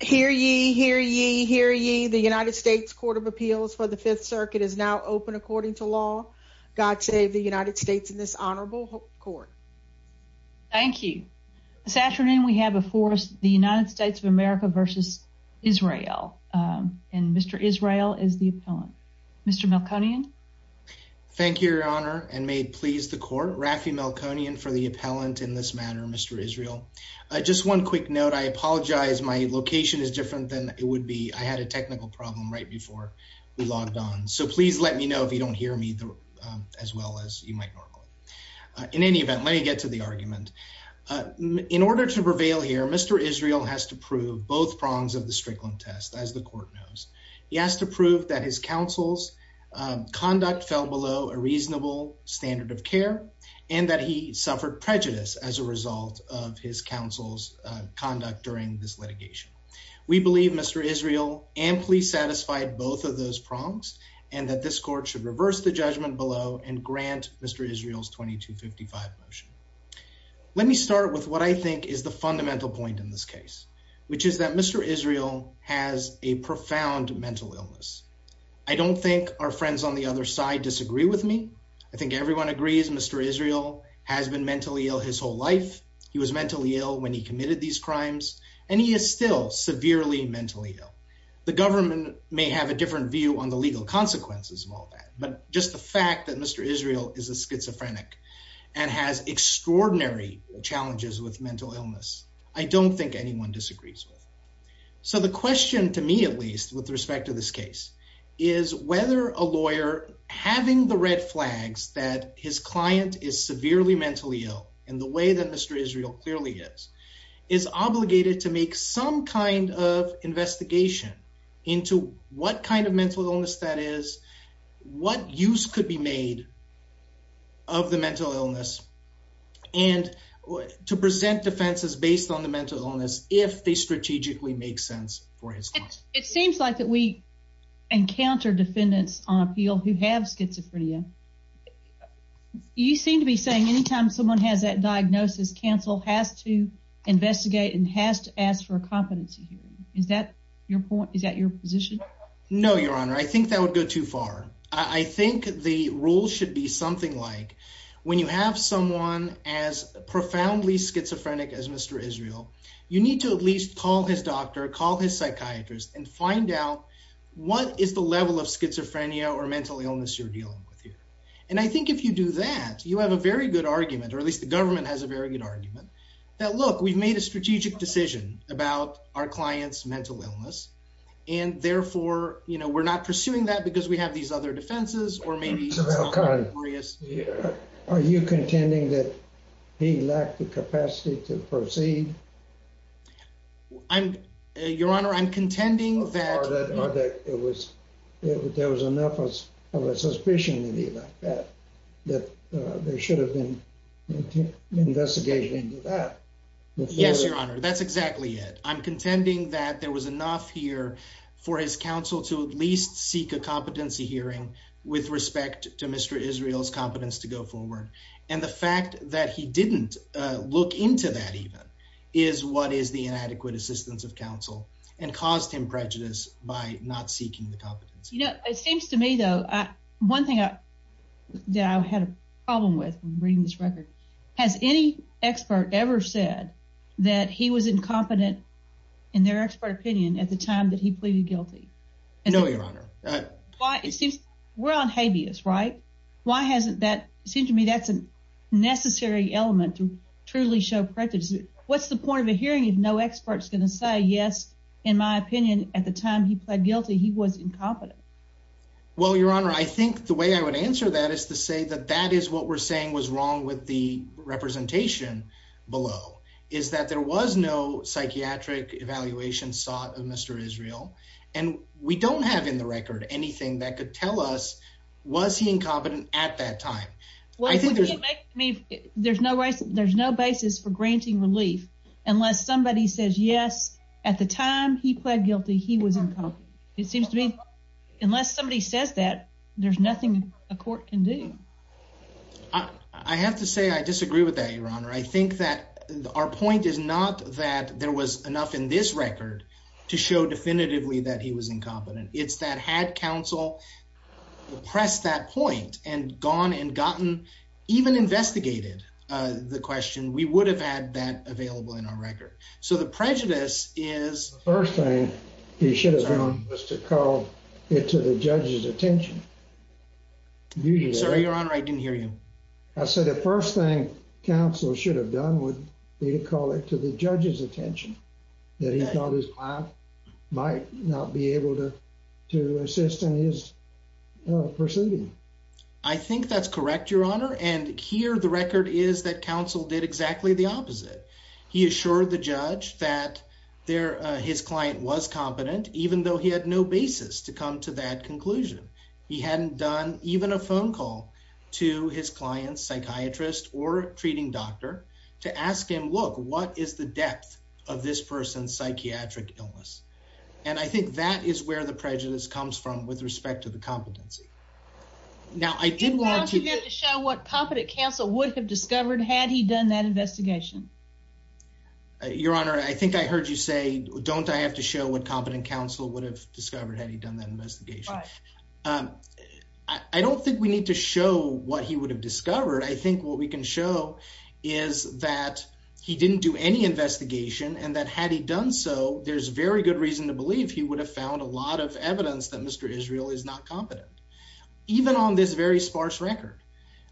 Hear ye, hear ye, hear ye. The United States Court of Appeals for the Fifth Circuit is now open according to law. God save the United States in this honorable court. Thank you. This afternoon we have a force the United States of America versus Israel. Um, and Mr Israel is the appellant. Mr Melkonian. Thank you, Your Honor. And made please the court. Rafi Melkonian for the appellant in this matter. Mr Israel, just one quick note. I apologize. My location is different than it would be. I had a technical problem right before we logged on. So please let me know if you don't hear me as well as you might normally. In any event, let me get to the argument. Uh, in order to prevail here, Mr Israel has to prove both prongs of the Strickland test. As the court knows, he has to prove that his counsel's conduct fell below a result of his counsel's conduct. During this litigation, we believe Mr Israel amply satisfied both of those prongs and that this court should reverse the judgment below and grant Mr Israel's 22 55 motion. Let me start with what I think is the fundamental point in this case, which is that Mr Israel has a profound mental illness. I don't think our friends on the other side disagree with me. I think everyone agrees. Mr Israel has been mentally ill his whole life. He was mentally ill when he committed these crimes, and he is still severely mentally ill. The government may have a different view on the legal consequences of all that. But just the fact that Mr Israel is a schizophrenic and has extraordinary challenges with mental illness, I don't think anyone disagrees with. So the question to me, at least with respect to this case, is whether a lawyer having the red flags that his client is and the way that Mr Israel clearly is, is obligated to make some kind of investigation into what kind of mental illness that is, what use could be made of the mental illness and to present defenses based on the mental illness if they strategically make sense for his. It seems like that we encounter defendants on appeal who have schizophrenia. You seem to be saying any time someone has that diagnosis, counsel has to investigate and has to ask for a competency. Is that your point? Is that your position? No, Your Honor. I think that would go too far. I think the rule should be something like when you have someone as profoundly schizophrenic as Mr Israel, you need to at least call his doctor, call his psychiatrist and find out what is the level of schizophrenia or mental illness you're dealing with here. And I think if you do that, you have a very good argument, or at least the government has a very good argument that, look, we've made a strategic decision about our client's mental illness and therefore, you know, we're not pursuing that because we have these other defenses or maybe it's not glorious. Are you contending that he lacked the capacity to proceed? I'm, Your Honor, I'm contending that it was, there was enough of a suspicion in the event that they should have been investigated into that. Yes, Your Honor. That's exactly it. I'm contending that there was enough here for his counsel to at least seek a competency hearing with respect to Mr Israel's competence to go forward. And the fact that he didn't look into that even is what is the inadequate assistance of counsel and caused him prejudice by not seeking the competence. You know, it seems to me, though, one thing that I had a problem with reading this record, has any expert ever said that he was incompetent in their expert opinion at the time that he pleaded guilty? No, Your Honor. It seems we're on habeas, right? Why hasn't that, it seems to me that's a necessary element to truly show prejudice. What's the point of a hearing if no expert's going to say, yes, in my opinion, at the time he guilty, he was incompetent. Well, Your Honor, I think the way I would answer that is to say that that is what we're saying was wrong with the representation below is that there was no psychiatric evaluation sought of Mr Israel, and we don't have in the record anything that could tell us, was he incompetent at that time? I think there's no way there's no basis for granting relief unless somebody says yes, at the time he pled guilty, he was it seems to me, unless somebody says that there's nothing a court can do. I have to say, I disagree with that, Your Honor. I think that our point is not that there was enough in this record to show definitively that he was incompetent. It's that had counsel press that point and gone and gotten even investigated the question, we would have had that available in our record. So the prejudice is first thing he should have done was to call it to the judge's attention. Sorry, Your Honor, I didn't hear you. I said the first thing counsel should have done would be to call it to the judge's attention that he thought his class might not be able to to assist in his proceeding. I think that's correct, Your Honor. And here the record is that counsel did exactly the opposite. He assured the judge that there his client was competent, even though he had no basis to come to that conclusion. He hadn't done even a phone call to his client's psychiatrist or treating doctor to ask him, Look, what is the depth of this person's psychiatric illness? And I think that is where the prejudice comes from with respect to the competency. Now, I did want to show what competent counsel would have discovered had he done that Your Honor, I think I heard you say, Don't I have to show what competent counsel would have discovered? Had he done that investigation? Um, I don't think we need to show what he would have discovered. I think what we can show is that he didn't do any investigation and that had he done so, there's very good reason to believe he would have found a lot of evidence that Mr Israel is not competent, even on this very sparse record.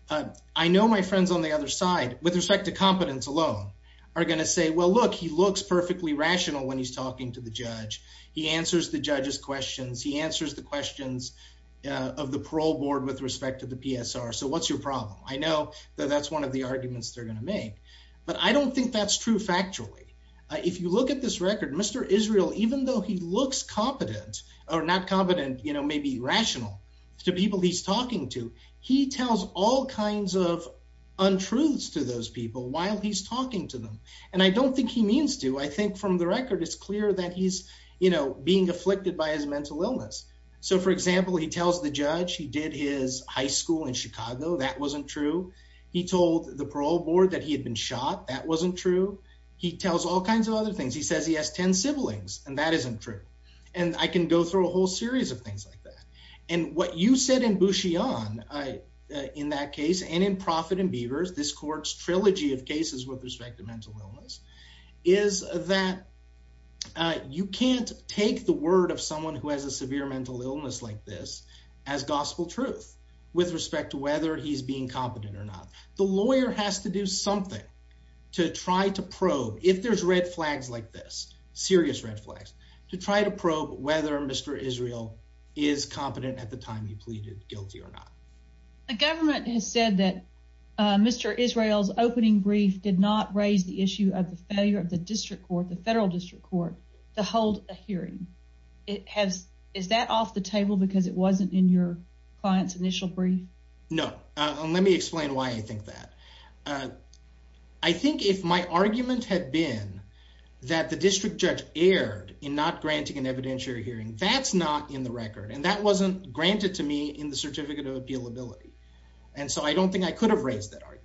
Uh, I know my friends on the other side, with respect to competence alone, are going to say, Well, look, he looks perfectly rational when he's talking to the judge. He answers the judge's questions. He answers the questions of the parole board with respect to the PSR. So what's your problem? I know that that's one of the arguments they're gonna make, but I don't think that's true. Factually, if you look at this record, Mr Israel, even though he looks competent or not competent, you know, maybe rational to people he's talking to, he tells all kinds of untruths to those people while he's talking to them. And I don't think he means to. I think from the record, it's clear that he's, you know, being afflicted by his mental illness. So, for example, he tells the judge he did his high school in Chicago. That wasn't true. He told the parole board that he had been shot. That wasn't true. He tells all kinds of other things. He says he has 10 siblings, and that isn't true. And I can go through a whole she on in that case and in profit and beavers. This court's trilogy of cases with respect to mental illness is that you can't take the word of someone who has a severe mental illness like this as gospel truth with respect to whether he's being competent or not. The lawyer has to do something to try to probe if there's red flags like this serious red flags to try to probe whether Mr Israel is competent at the time he pleaded guilty or not. The government has said that Mr Israel's opening brief did not raise the issue of the failure of the district court, the federal district court to hold a hearing. It has. Is that off the table? Because it wasn't in your client's initial brief? No. Let me explain why I think that, uh, I think if my argument had been that the district judge erred in not granting an evidentiary hearing, that's not in the record, and that wasn't granted to me in the certificate of appeal ability. And so I don't think I could have raised that argument.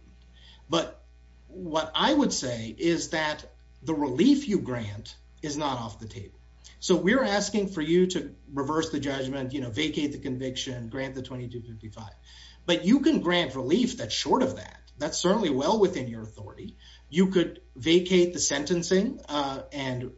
But what I would say is that the relief you grant is not off the table. So we're asking for you to reverse the judgment, you know, vacate the conviction, grant the 22 55. But you can grant relief that short of that. That's certainly well within your authority. You could vacate the sentencing on,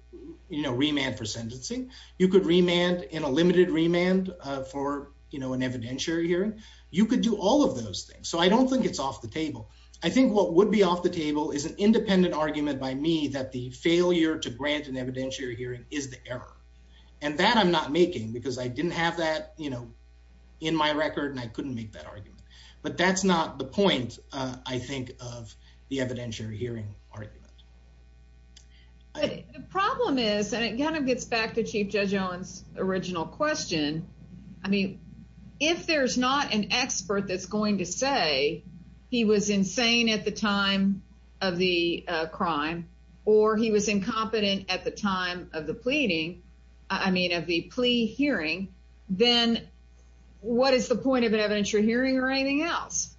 you know, remand for sentencing. You could remand in a limited remand for, you know, an evidentiary hearing. You could do all of those things. So I don't think it's off the table. I think what would be off the table is an independent argument by me that the failure to grant an evidentiary hearing is the error and that I'm not making because I didn't have that, you know, in my record, and I couldn't make that argument. But that's not the point, I think, of the evidentiary hearing argument. The problem is, and it kind of gets back to Chief Judge Owens original question. I mean, if there's not an expert that's going to say he was insane at the time of the crime, or he was incompetent at the time of the pleading, I mean, of the plea hearing, then what is the point of an evidentiary hearing or anything else?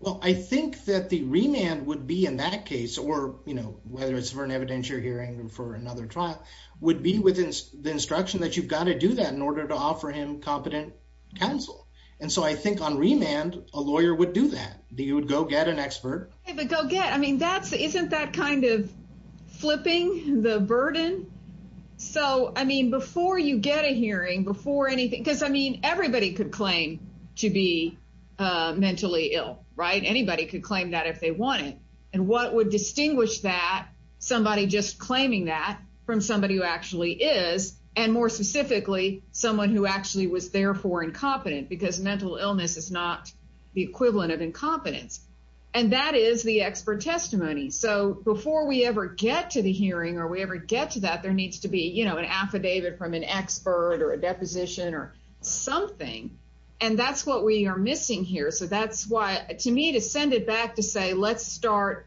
Well, I think that the remand would be in that case, or, you know, whether it's for an evidentiary hearing for another trial, would be within the instruction that you've got to do that in order to offer him competent counsel. And so I think on remand, a lawyer would do that. You would go get an expert. But go get I mean, that's isn't that kind of flipping the burden. So I mean, before you get a hearing before anything, because I mean, everybody could claim to be mentally ill, right? Anybody could claim that if they want it. And what would distinguish that somebody just claiming that from somebody who actually is, and more specifically, someone who actually was therefore incompetent, because mental illness is not the equivalent of incompetence. And that is the expert testimony. So before we ever get to the hearing, or we ever get to that there needs to be, you know, an affidavit from an expert or a deposition or something. And that's what we are missing here. So that's why to me to send it back to say, let's start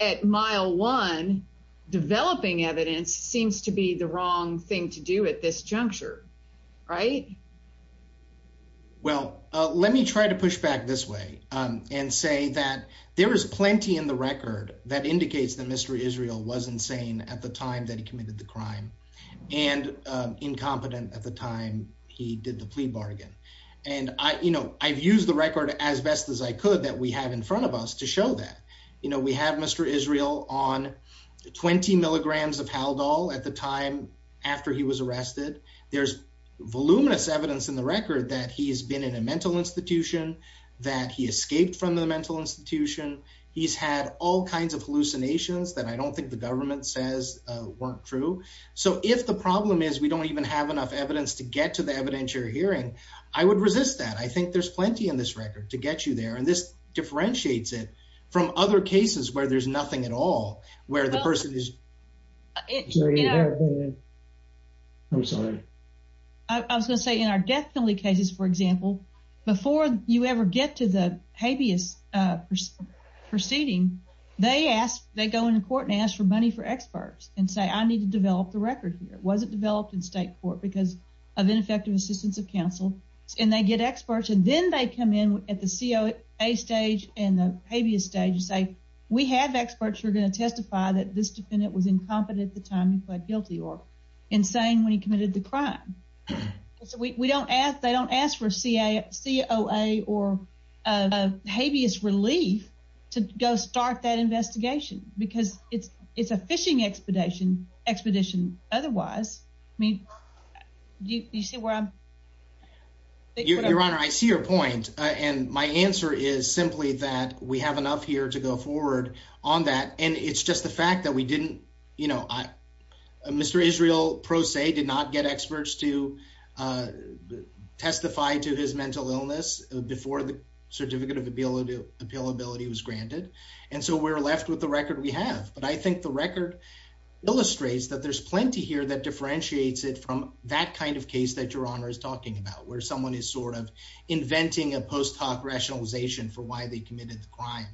at mile one, developing evidence seems to be the well, let me try to push back this way and say that there is plenty in the record that indicates that Mr. Israel wasn't saying at the time that he committed the crime and incompetent at the time he did the plea bargain. And I you know, I've used the record as best as I could that we have in front of us to show that, you know, we have Mr. Israel on 20 milligrams of how doll at the time after he was arrested. There's voluminous evidence in the record that he has been in a mental institution, that he escaped from the mental institution. He's had all kinds of hallucinations that I don't think the government says weren't true. So if the problem is we don't even have enough evidence to get to the evidentiary hearing, I would resist that. I think there's plenty in this record to get you there. And this differentiates it from other cases where there's nothing at all, where the person is. Yeah. I'm sorry. I was gonna say in our death penalty cases, for example, before you ever get to the habeas proceeding, they ask, they go into court and ask for money for experts and say, I need to develop the record here. It wasn't developed in state court because of ineffective assistance of counsel. And they get experts and then they come in at the COA stage and the habeas stage and say, we have experts who are going to testify that this defendant was incompetent at the time he plead guilty or insane when he committed the crime. So we don't ask, they don't ask for C. A. C. O. A. Or, uh, habeas relief to go start that investigation because it's it's a fishing expedition expedition. Otherwise, I mean, do you see where I'm your honor? I see your point. And my answer is simply that we have enough here to go forward on that. And it's just the fact that we didn't, you know, I Mr Israel pro se did not get experts to, uh, testify to his mental illness before the certificate of ability appeal ability was granted. And so we're left with the record we have. But I think the record illustrates that there's plenty here that differentiates it from that kind of case that your honor is talking about, where someone is sort of inventing a post hoc rationalization for why they committed the crime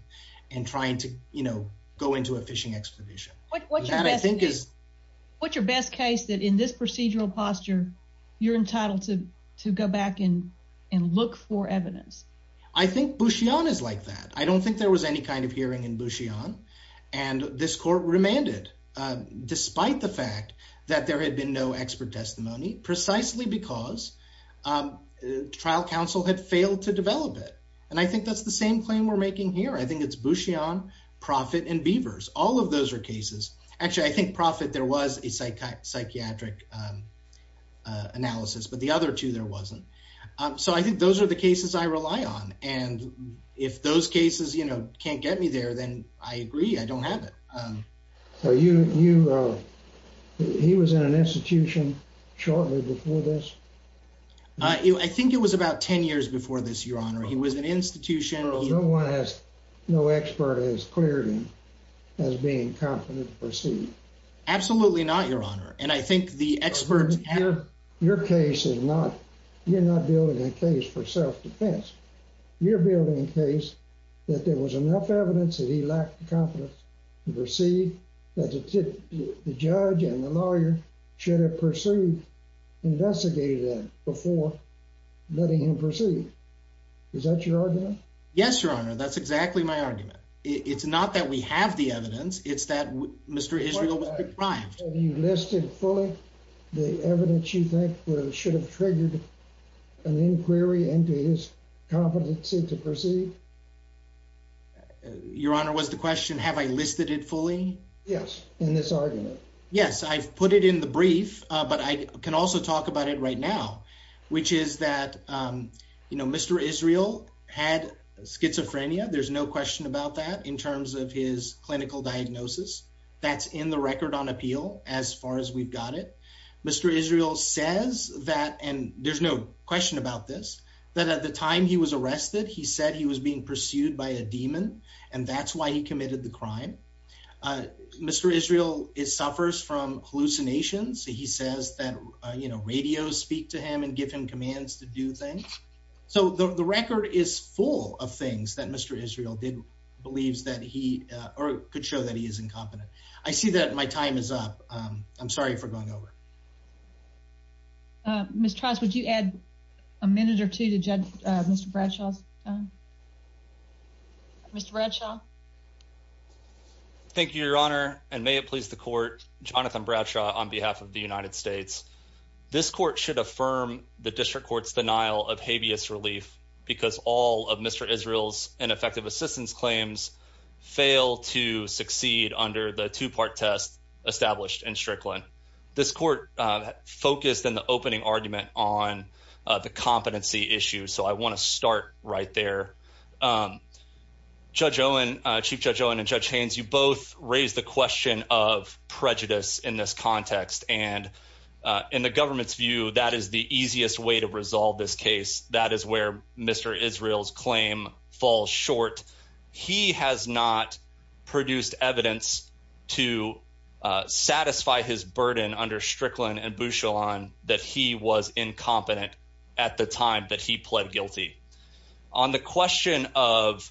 and trying to, you know, go into a fishing expedition. What I think is what's your best case that in this procedural posture, you're entitled to go back in and look for evidence. I think bushy on is like that. I don't think there was any kind of hearing in bushy on, and this court remanded despite the fact that there had been no expert testimony precisely because, um, trial counsel had failed to develop it. And I think that's the same claim we're making here. I think it's bushy on profit and beavers. All of those air cases. Actually, I think profit there was a psychiatric, um, analysis, but the other two there wasn't eso. I think those are the cases I rely on. And if those cases, you know, can't get me shortly before this. I think it was about 10 years before this, Your Honor. He was an institution. No one has no expert has cleared him as being confident proceed. Absolutely not, Your Honor. And I think the experts have your case is not. You're not building a case for self defense. You're building a case that there was enough evidence that he lacked confidence to proceed. That's it. The lawyer should have pursued investigated before letting him proceed. Is that your argument? Yes, Your Honor. That's exactly my argument. It's not that we have the evidence. It's that Mr Israel was deprived. You listed fully the evidence you think should have triggered an inquiry into his competency to proceed. Your Honor was the question. Have I listed it fully? Yes. In this argument? Yes, I've put it in the brief, but I can also talk about it right now, which is that, um, you know, Mr Israel had schizophrenia. There's no question about that in terms of his clinical diagnosis. That's in the record on appeal. As far as we've got it, Mr Israel says that and there's no question about this, that at the time he was arrested, he said he was being pursued by a demon, and first from hallucinations, he says that, you know, radio speak to him and give him commands to do things. So the record is full of things that Mr Israel did believes that he could show that he is incompetent. I see that my time is up. I'm sorry for going over. Uh, Miss Trust, would you add a minute or two to judge Mr Bradshaw's? Mr Bradshaw. Thank you, Your Honor. And may it please the court. Jonathan Bradshaw on behalf of the United States. This court should affirm the district court's denial of habeas relief because all of Mr Israel's ineffective assistance claims fail to succeed under the two part test established in Strickland. This court focused in the opening argument on the competency issue. So I want to start right there. Um, Judge Owen, Chief Judge Owen and Judge Haines. You both raised the question of prejudice in this context, and in the government's view, that is the easiest way to resolve this case. That is where Mr Israel's claim falls short. He has not produced evidence to satisfy his burden under Strickland and Bushel on that he was incompetent at the time that he pled guilty on the question of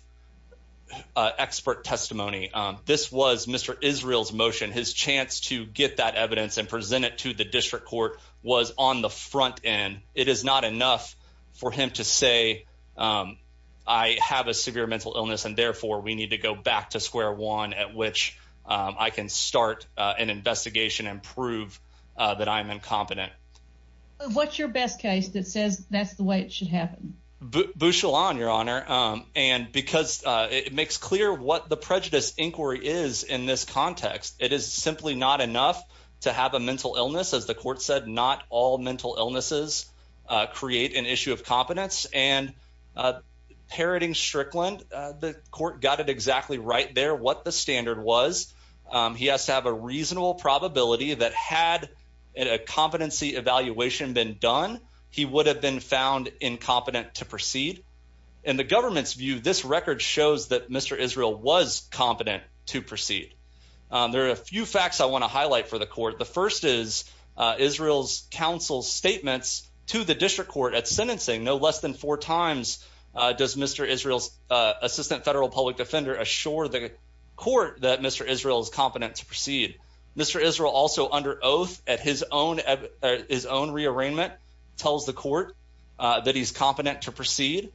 expert testimony. This was Mr Israel's motion. His chance to get that evidence and present it to the district court was on the front end. It is not enough for him to say, um, I have a severe mental illness, and therefore we need to go back to square one at which I can start an investigation and prove that I'm incompetent. What's your best case that says that's the way it should happen? Bushel on your honor. Um, and because it makes clear what the prejudice inquiry is in this context, it is simply not enough to have a mental illness. As the court said, not all mental illnesses create an issue of competence and, uh, parroting Strickland. The court got it exactly right there. What the standard was he has to have a reasonable probability that had a competency evaluation been done, he would have been found incompetent to proceed in the government's view. This record shows that Mr Israel was competent to proceed. There are a few facts I want to highlight for the court. The first is Israel's counsel's statements to the district court at sentencing. No less than four times does Mr Israel's assistant federal public defender assure the court that Mr Israel is competent to proceed. Mr Israel also under oath at his own his own re arraignment tells the court that he's competent to proceed,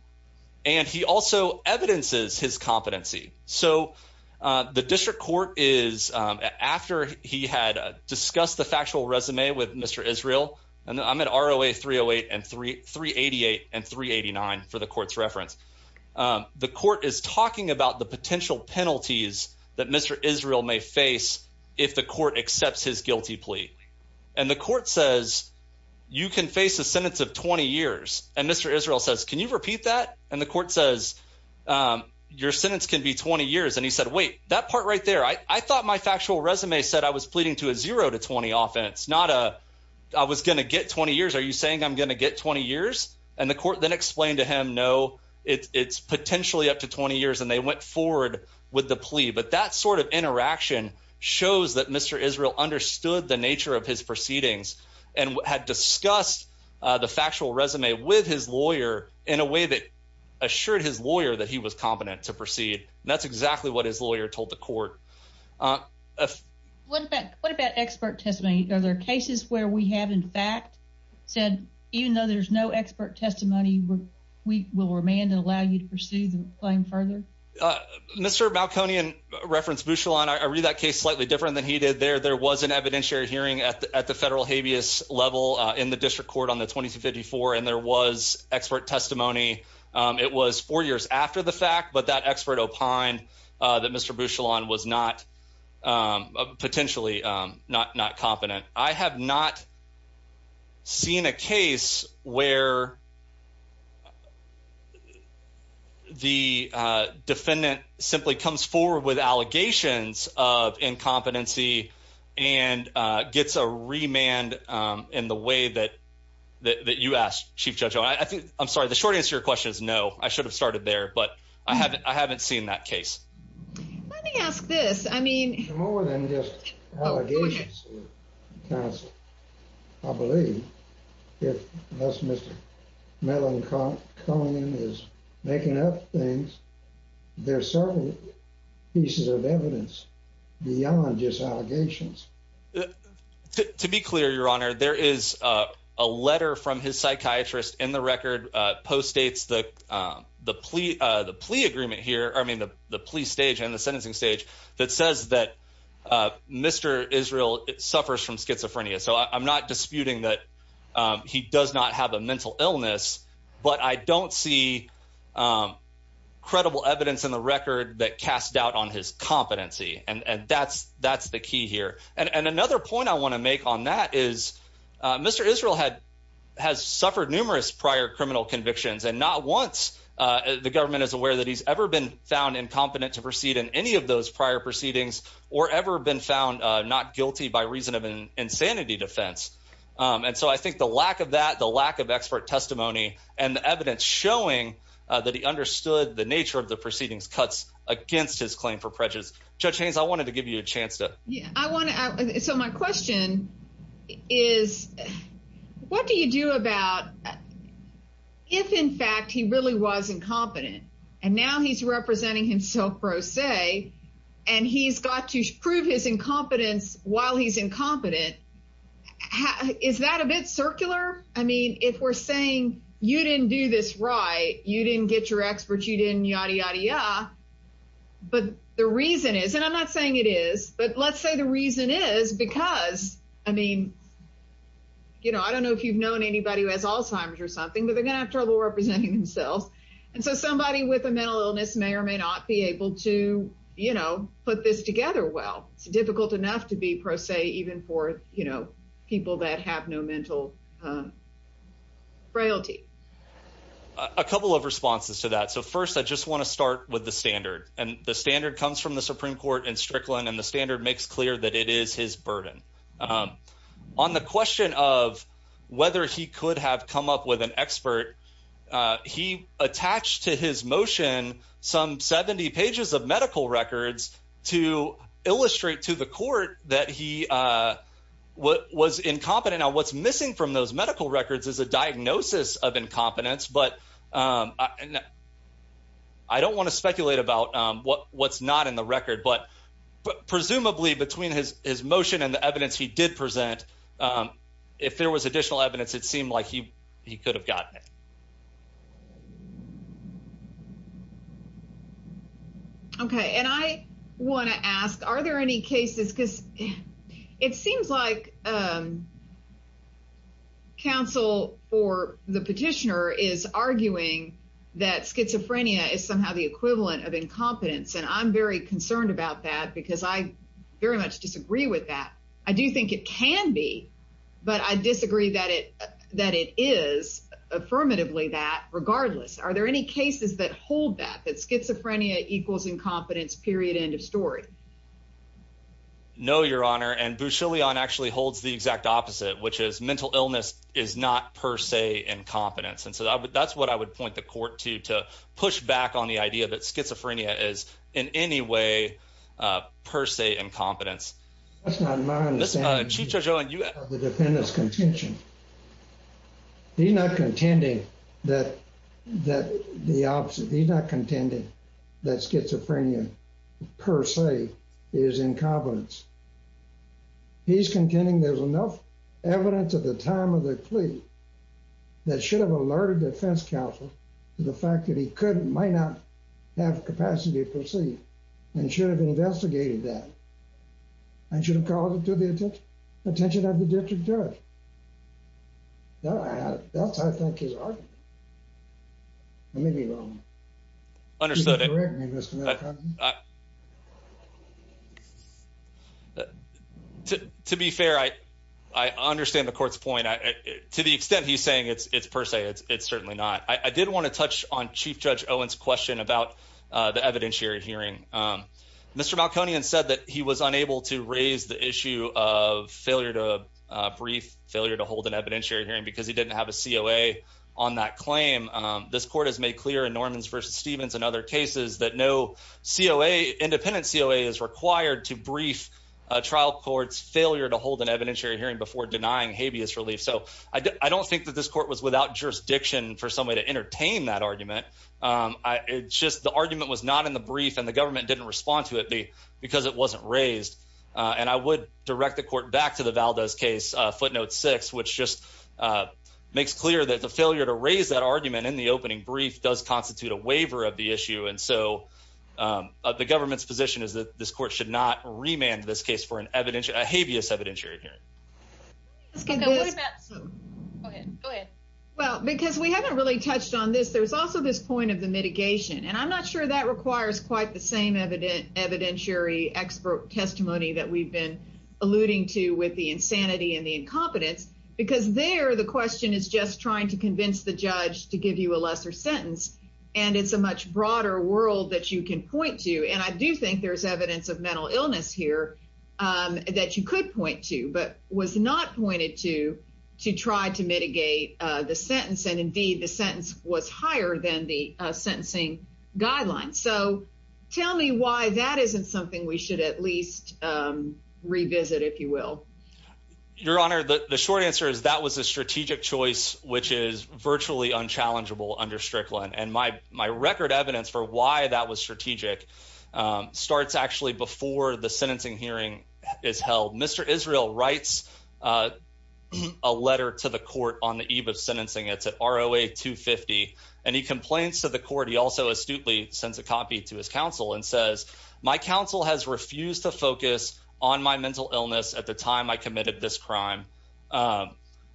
and he also evidences his competency. So, uh, the district court is after he had discussed the factual resume with Mr Israel. And I'm in our away 3 08 and 3 3 88 and 3 89 for the court's reference. The court is talking about the potential penalties that Mr Israel may face if the court accepts his guilty plea. And the court says you can face a sentence of 20 years. And Mr Israel says, Can you repeat that? And the court says, um, your sentence could be 20 years. And he said, Wait, that part right there. I thought my factual resume said I was pleading to a 0 to 20 offense, not a I was gonna get 20 years. Are you saying I'm gonna get 20 years? And the court then explained to him. No, it's potentially up to 20 years. And they went forward with the plea. But that sort of interaction shows that Mr Israel understood the nature of his proceedings and had discussed the factual resume with his lawyer in a way that assured his lawyer that he was competent to proceed. That's exactly what his lawyer told the court. Uh, what? What about expert testimony? Are there cases where we have, in fact, said, even though there's no expert testimony, we will remand and allow you proceed playing further. Uh, Mr Balconian referenced Bushel on. I read that case slightly different than he did there. There was an evidentiary hearing at the federal habeas level in the district court on the 22 54. And there was expert testimony. It was four years after the fact. But that expert opine that Mr Bushel on was not, um, potentially not not competent. I have not seen a case where the defendant simply comes forward with allegations of incompetency and gets a remand in the way that that you asked. Chief Judge, I think I'm sorry. The short answer questions. No, I should have started there. But I haven't. I haven't seen that case. Let me ask this. I mean, more than just allegations cast. I believe it. That's Mr Mellon. Come on is making up things. There's certainly pieces of evidence beyond just allegations. To be clear, Your Honor, there is a letter from his psychiatrist in the record post states that the plea the plea agreement here. I mean, the police stage and the suffers from schizophrenia. So I'm not disputing that he does not have a mental illness, but I don't see, um, credible evidence in the record that cast doubt on his competency. And that's that's the key here. And another point I want to make on that is Mr Israel had has suffered numerous prior criminal convictions and not once the government is aware that he's ever been found incompetent to proceed in any of those prior proceedings or ever been found not guilty by reason of insanity defense. And so I think the lack of that, the lack of expert testimony and evidence showing that he understood the nature of the proceedings cuts against his claim for prejudice. Judge Haynes, I wanted to give you a chance to I want to. So my question is, what do you do about if, in fact, he really was incompetent and now he's representing himself, pro se, and he's got to prove his incompetence while he's incompetent? Is that a bit circular? I mean, if we're saying you didn't do this right, you didn't get your experts, you didn't yada, yada, yada. But the reason is, and I'm not saying it is, but let's say the reason is because I mean, you know, I don't know if you've known anybody who has Alzheimer's or something, but they're gonna have trouble representing themselves. And so somebody with a mental illness may or may not be able to, you know, put this together. Well, it's difficult enough to be pro se, even for, you know, people that have no mental, uh, frailty. A couple of responses to that. So first, I just want to start with the standard and the standard comes from the Supreme Court in Strickland, and the standard makes clear that it is his burden. Um, on the question of whether he could have come up with an expert, he attached to his motion some 70 pages of medical records to illustrate to the court that he, uh, what was incompetent on what's missing from those medical records is a diagnosis of incompetence. But, um, I don't want to speculate about what's not in the record, but presumably between his motion and the evidence he did present, um, if there was additional evidence, it seemed like he could have gotten it. Okay. And I want to ask, Are there any cases? Because it seems like, um, counsel for the petitioner is arguing that schizophrenia is somehow the equivalent of incompetence. And I'm very concerned about that, because I very it can be. But I disagree that it that it is affirmatively that regardless, are there any cases that hold that that schizophrenia equals incompetence period? End of story. No, Your Honor. And Boucher Leon actually holds the exact opposite, which is mental illness is not per se incompetence. And so that's what I would point the court to to push back on the idea that schizophrenia is in any way, per se, incompetence. That's not mine. Chief Judge Owen, you have the defendant's contention. He's not contending that that the opposite. He's not contending that schizophrenia per se is incompetence. He's contending there's enough evidence at the time of the plea that should have alerted the defense counsel to the fact that he could might not have capacity to proceed and should have investigated that and should have called it to the attention of the district judge. That's I think his argument. I may be wrong. Understood. To be fair, I understand the court's point. To the extent he's saying it's per se, it's certainly not. I did want to touch on Chief Judge Owen's question about the evidentiary hearing. Mr Malconian said that he was unable to raise the issue of failure to brief failure to hold an evidentiary hearing because he didn't have a C. O. A. On that claim, this court has made clear in Norman's versus Stevens and other cases that no C. O. A. Independent C. O. A. Is required to brief trial courts failure to hold an evidentiary hearing before denying habeas relief. So I don't think that this court was without jurisdiction for some way to entertain that argument. Um, it's just the argument was not in the brief and the government didn't respond to it because it wasn't raised. Uh, and I would direct the court back to the Valdez case footnote six, which just, uh, makes clear that the failure to raise that argument in the opening brief does constitute a waiver of the issue. And so, um, the government's position is that this court should not remand this case for an evidential habeas evidentiary hearing. It's good. Go ahead. Well, because we haven't really touched on this. There's also this point of the mitigation, and I'm not sure that requires quite the same evident evidentiary expert testimony that we've been alluding to with the insanity and the incompetence because there the question is just trying to convince the judge to give you a lesser sentence. And it's a much broader world that you can point to. And I do think there's evidence of mental illness here, um, that you could point to, but was not pointed to to try to mitigate the sentence. And indeed, the sentence was higher than the sentencing guidelines. So tell me why that isn't something we should at least, um, revisit, if you will. Your honor, the short answer is that was a strategic choice, which is virtually unchallengeable under Strickland. And my record evidence for why that was strategic, um, starts actually before the sentencing hearing is held. Mr Israel writes, uh, a letter to the court on the eve of sentencing. It's at R. O. A. 2 50. And he complains to the court. He also astutely sends a copy to his counsel and says, My counsel has refused to focus on my mental illness at the time I committed this crime. Um,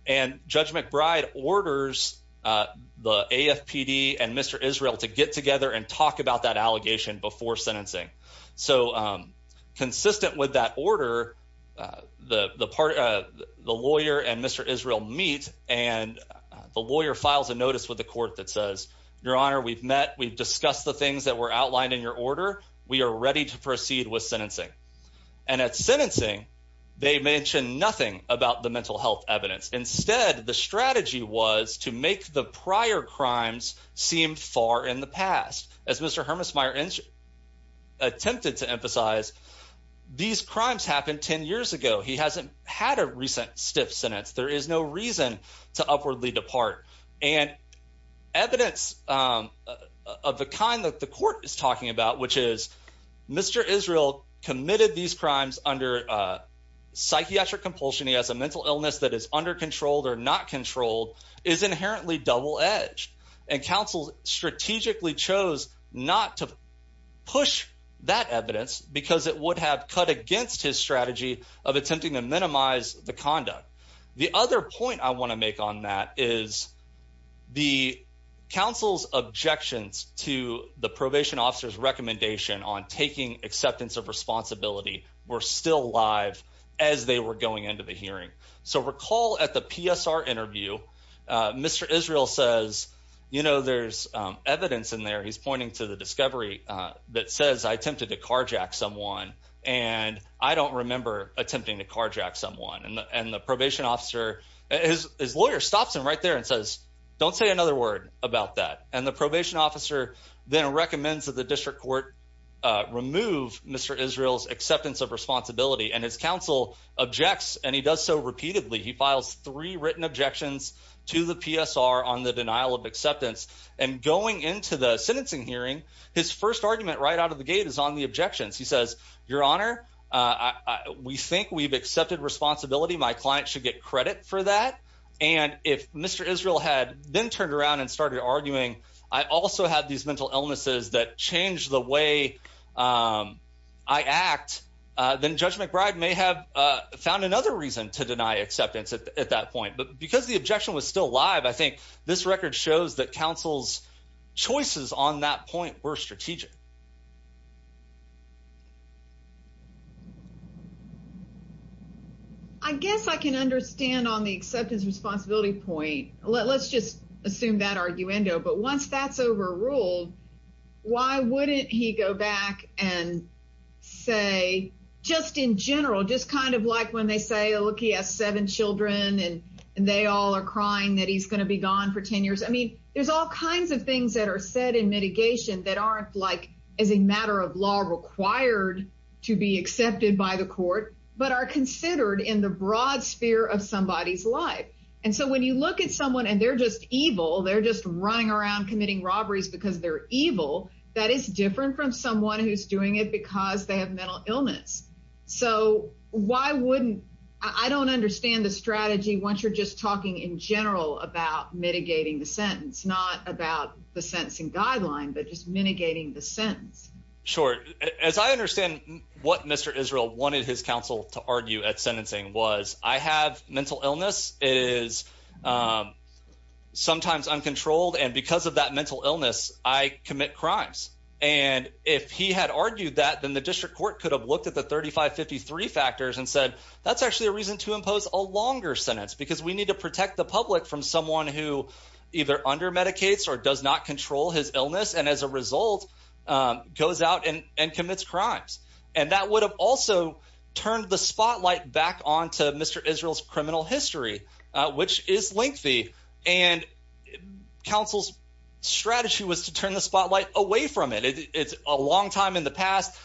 and Judge McBride orders, uh, the A. F. P. D. And Mr Israel to get together and talk about that allegation before sentencing. So, um, consistent with that order, uh, the part of the lawyer and Mr Israel meet, and the lawyer files a notice with the court that says, Your honor, we've met. We've discussed the things that were outlined in your order. We are ready to proceed with sentencing. And it's sentencing. They mentioned nothing about the mental health evidence. Instead, the strategy was to make the prior crimes seem far in the past. As Mr Hermes Meyer inch attempted to emphasize these crimes happened 10 years ago. He hasn't had a recent stiff sentence. There is no reason to upwardly depart and evidence of the kind that the court is talking about, which is Mr Israel committed these crimes under psychiatric compulsion. He has a mental illness that is under controlled or not controlled, is inherently double edged, and counsel strategically chose not to push that evidence because it would have cut against his strategy of attempting to minimize the conduct. The other point I want to make on that is the council's objections to the probation officer's recommendation on taking acceptance of responsibility were still live as they were going into the hearing. So recall at the PSR interview, Mr Israel says, You know, there's evidence in there. He's pointing to the discovery that says I attempted to carjack someone, and I don't remember attempting to carjack someone and the probation officer. His lawyer stops him right there and says, Don't say another word about that. And the probation officer then recommends that the remove Mr Israel's acceptance of responsibility and his counsel objects, and he does so repeatedly. He files three written objections to the PSR on the denial of acceptance and going into the sentencing hearing. His first argument right out of the gate is on the objections. He says, Your honor, we think we've accepted responsibility. My client should get credit for that. And if Mr Israel had been turned around and started arguing, I also had these mental illnesses that changed the way, um, I act, then Judge McBride may have found another reason to deny acceptance at that point. But because the objection was still live, I think this record shows that counsel's choices on that point were strategic. I guess I can understand on the acceptance responsibility point. Let's just assume that arguendo. But once that's overruled, why wouldn't he go back and say just in general, just kind of like when they say, Look, he has seven Children, and they all are crying that he's gonna be gone for 10 years. I mean, there's all kinds of things that are said in mitigation that aren't like as a matter of law required to be accepted by the court, but are considered in the broad sphere of somebody's life. And so when you look at someone and they're just evil, they're just running around committing robberies because they're evil. That is different from someone who's doing it because they have mental illness. So why wouldn't I don't understand the strategy once you're just talking in general about mitigating the sentence, not about the sentencing guideline, but just mitigating the sentence. Sure. As I understand what Mr Israel wanted his counsel to argue at sentencing was I have mental illness is, um, sometimes uncontrolled. And because of that mental illness, I commit crimes. And if he had argued that, then the district court could have looked at the 35 53 factors and said, That's actually a reason to impose a longer sentence because we need to protect the public from someone who either under medicates or does not control his illness and as a result goes out and commits crimes. And that would have also turned the spotlight back on to Mr Israel's criminal history, which is lengthy. And counsel's strategy was to turn the spotlight away from it. It's a long time in the past.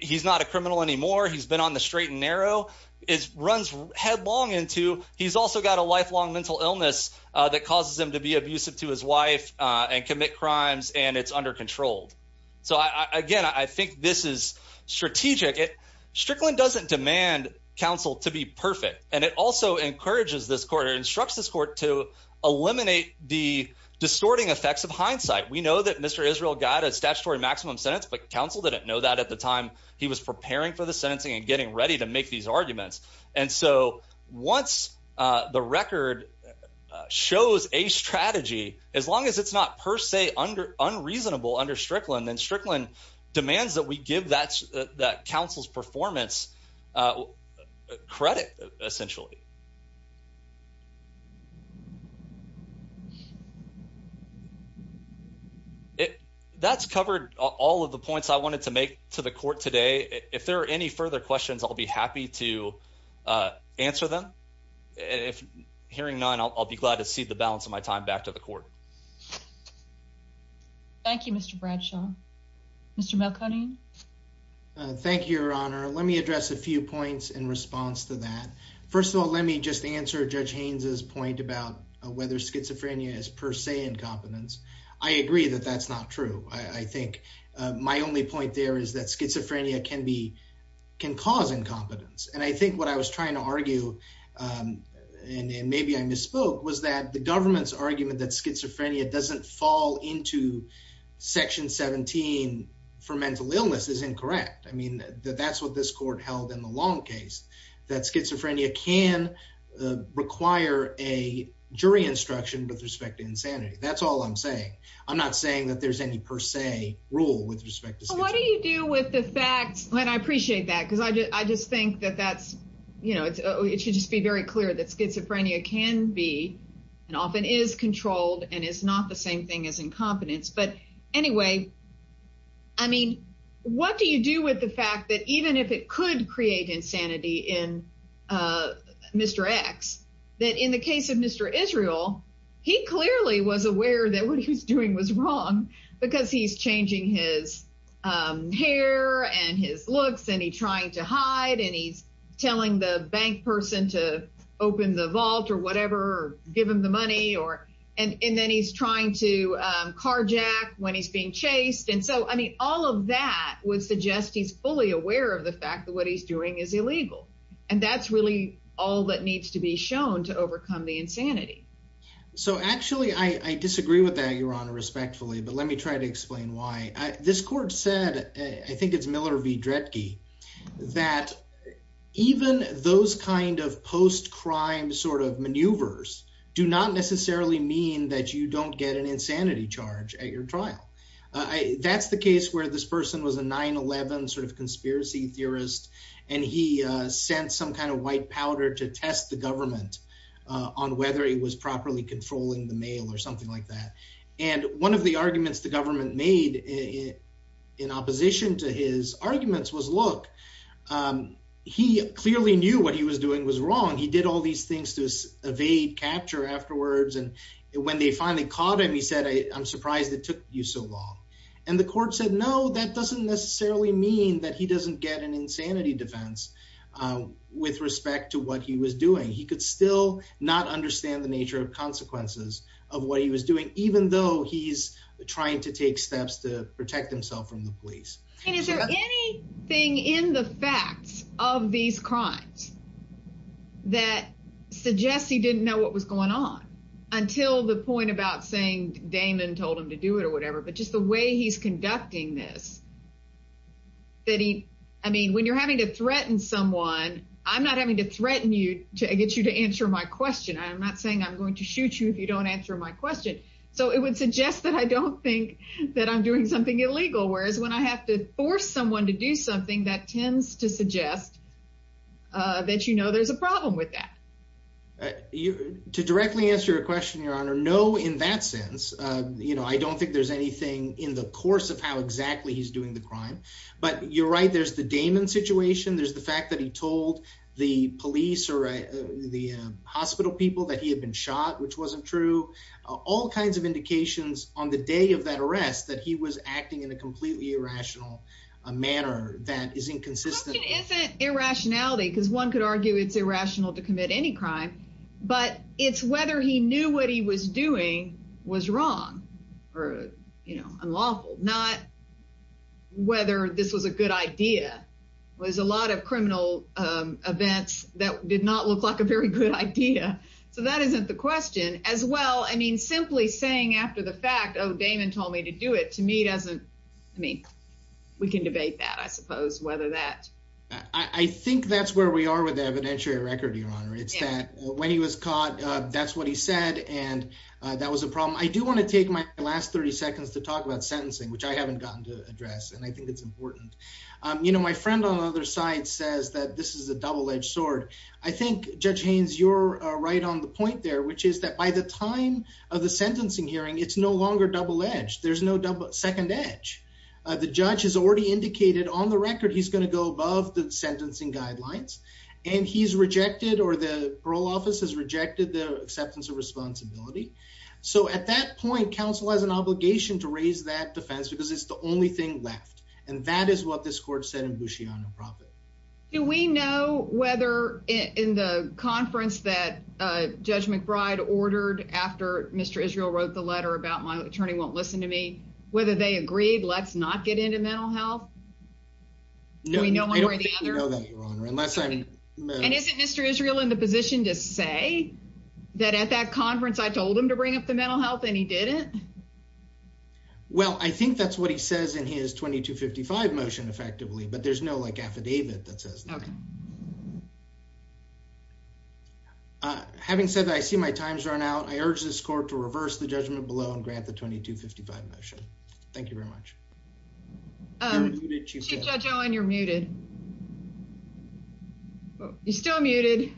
He's not a criminal anymore. He's been on the straight and narrow is runs headlong into. He's also got a lifelong mental illness that causes him to be abusive to his wife on commit crimes, and it's under controlled. So again, I think this is strategic. It Strickland doesn't demand counsel to be perfect, and it also encourages this quarter instructs this court to eliminate the distorting effects of hindsight. We know that Mr Israel got a statutory maximum sentence, but counsel didn't know that at the time he was preparing for the sentencing and getting ready to make these arguments. And so once the record shows a strategy, as long as it's not per se under unreasonable under Strickland and Strickland demands that we give that that council's performance, uh, credit essentially. It that's covered all of the points I wanted to make to the court today. If there are any further questions, I'll be happy to, uh, answer them. If hearing none, I'll be glad to see the balance of my time back to the court. Thank you, Mr Bradshaw. Mr Malcony. Thank you, Your Honor. Let me address a few points in response to that. First of all, let me just answer Judge Haynes's point about whether schizophrenia is per se incompetence. I agree that that's not true. I think my only point there is that schizophrenia can be can cause incompetence. And I think what I was trying to argue, um, and maybe I misspoke was that the government's into Section 17 for mental illness is incorrect. I mean, that's what this court held in the long case that schizophrenia can require a jury instruction with respect to insanity. That's all I'm saying. I'm not saying that there's any per se rule with respect to what do you do with the fact that I appreciate that, because I just think that that's, you know, it should just be very clear that schizophrenia can be and often is thing is incompetence. But anyway, I mean, what do you do with the fact that even if it could create insanity in, uh, Mr X, that in the case of Mr Israel, he clearly was aware that what he was doing was wrong because he's changing his, um, hair and his looks and he trying to hide and he's telling the bank person to open the vault or whatever, give him the money or and and then he's trying to carjack when he's being chased. And so, I mean, all of that would suggest he's fully aware of the fact that what he's doing is illegal, and that's really all that needs to be shown to overcome the insanity. So actually, I disagree with that. You're on respectfully. But let me try to explain why this court said. I think it's Miller v Dretke that even those kind of post crime sort of maneuvers do not necessarily mean that you don't get an insanity charge at your trial. That's the case where this person was a 9 11 sort of conspiracy theorist, and he sent some kind of white powder to test the government on whether he was properly controlling the mail or something like that. And one of the arguments the government made in opposition to his arguments was, Look, um, he clearly knew what he was doing was wrong. He did all these things to evade capture afterwards. And when they finally caught him, he said, I'm surprised it took you so long. And the court said, No, that doesn't necessarily mean that he doesn't get an insanity defense with respect to what he was doing. He could still not understand the nature of consequences of what he was doing, even though he's trying to take from the police. Is there anything in the facts of these crimes that suggests he didn't know what was going on until the point about saying Damon told him to do it or whatever. But just the way he's conducting this, that he I mean, when you're having to threaten someone, I'm not having to threaten you to get you to answer my question. I'm not saying I'm going to shoot you if you don't answer my question. So it would suggest that I don't think that I'm doing something illegal. Whereas when I have to force someone to do something that tends to suggest that you know there's a problem with that to directly answer your question, Your Honor. No. In that sense, you know, I don't think there's anything in the course of how exactly he's doing the crime. But you're right. There's the Damon situation. There's the fact that he told the police or the hospital people that he had been shot, which wasn't true. All kinds of indications on the day of that arrest that he was acting in a completely irrational manner that is inconsistent. Irrationality because one could argue it's irrational to commit any crime. But it's whether he knew what he was doing was wrong or, you know, unlawful. Not whether this was a good idea was a lot of criminal events that did not look like a very good idea. So that isn't the question as well. I mean, simply saying after the fact, Oh, Damon told me to do it to me doesn't mean we can debate that. I suppose whether that I think that's where we are with the evidentiary record, Your Honor. It's that when he was caught, that's what he said. And that was a problem. I do want to take my last 30 seconds to talk about sentencing, which I haven't gotten to address. And I think it's important. You know, my friend on the other side says that this is a double edged sword. I think, Judge Haynes, you're right on the point there, which is that by the time of the sentencing hearing, it's no longer double edged. There's no double second edge. The judge has already indicated on the record he's going to go above the sentencing guidelines, and he's rejected or the parole office has rejected the acceptance of responsibility. So at that point, counsel has an obligation to raise that defense because it's the only thing left. And that is what this court said in Boucher on a profit. Do we know whether in the conference that Judge McBride ordered after Mr Israel wrote the letter about my attorney won't listen to me, whether they agreed, let's not get into mental health. No, I don't know that, Your Honor, unless I'm and isn't Mr Israel in the position to say that at that conference, I told him to bring up the mental health and he didn't. Well, I think that's what he says in his 22 55 motion effectively. But there's no like affidavit that says, having said that, I see my time's run out. I urge this court to reverse the judgment below and grant the 22 55 motion. Thank you very much. Um, Judge Owen, you're muted. You're still muted.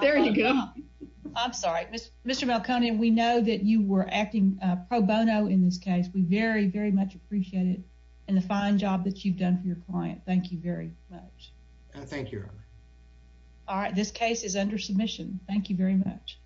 There you go. I'm sorry, Mr Mr Malcony. We know that you were acting pro bono in this case. We very, very much appreciate it. And the fine job that you've done for your client. Thank you very much. Thank you. All right. This case is under submission. Thank you very much.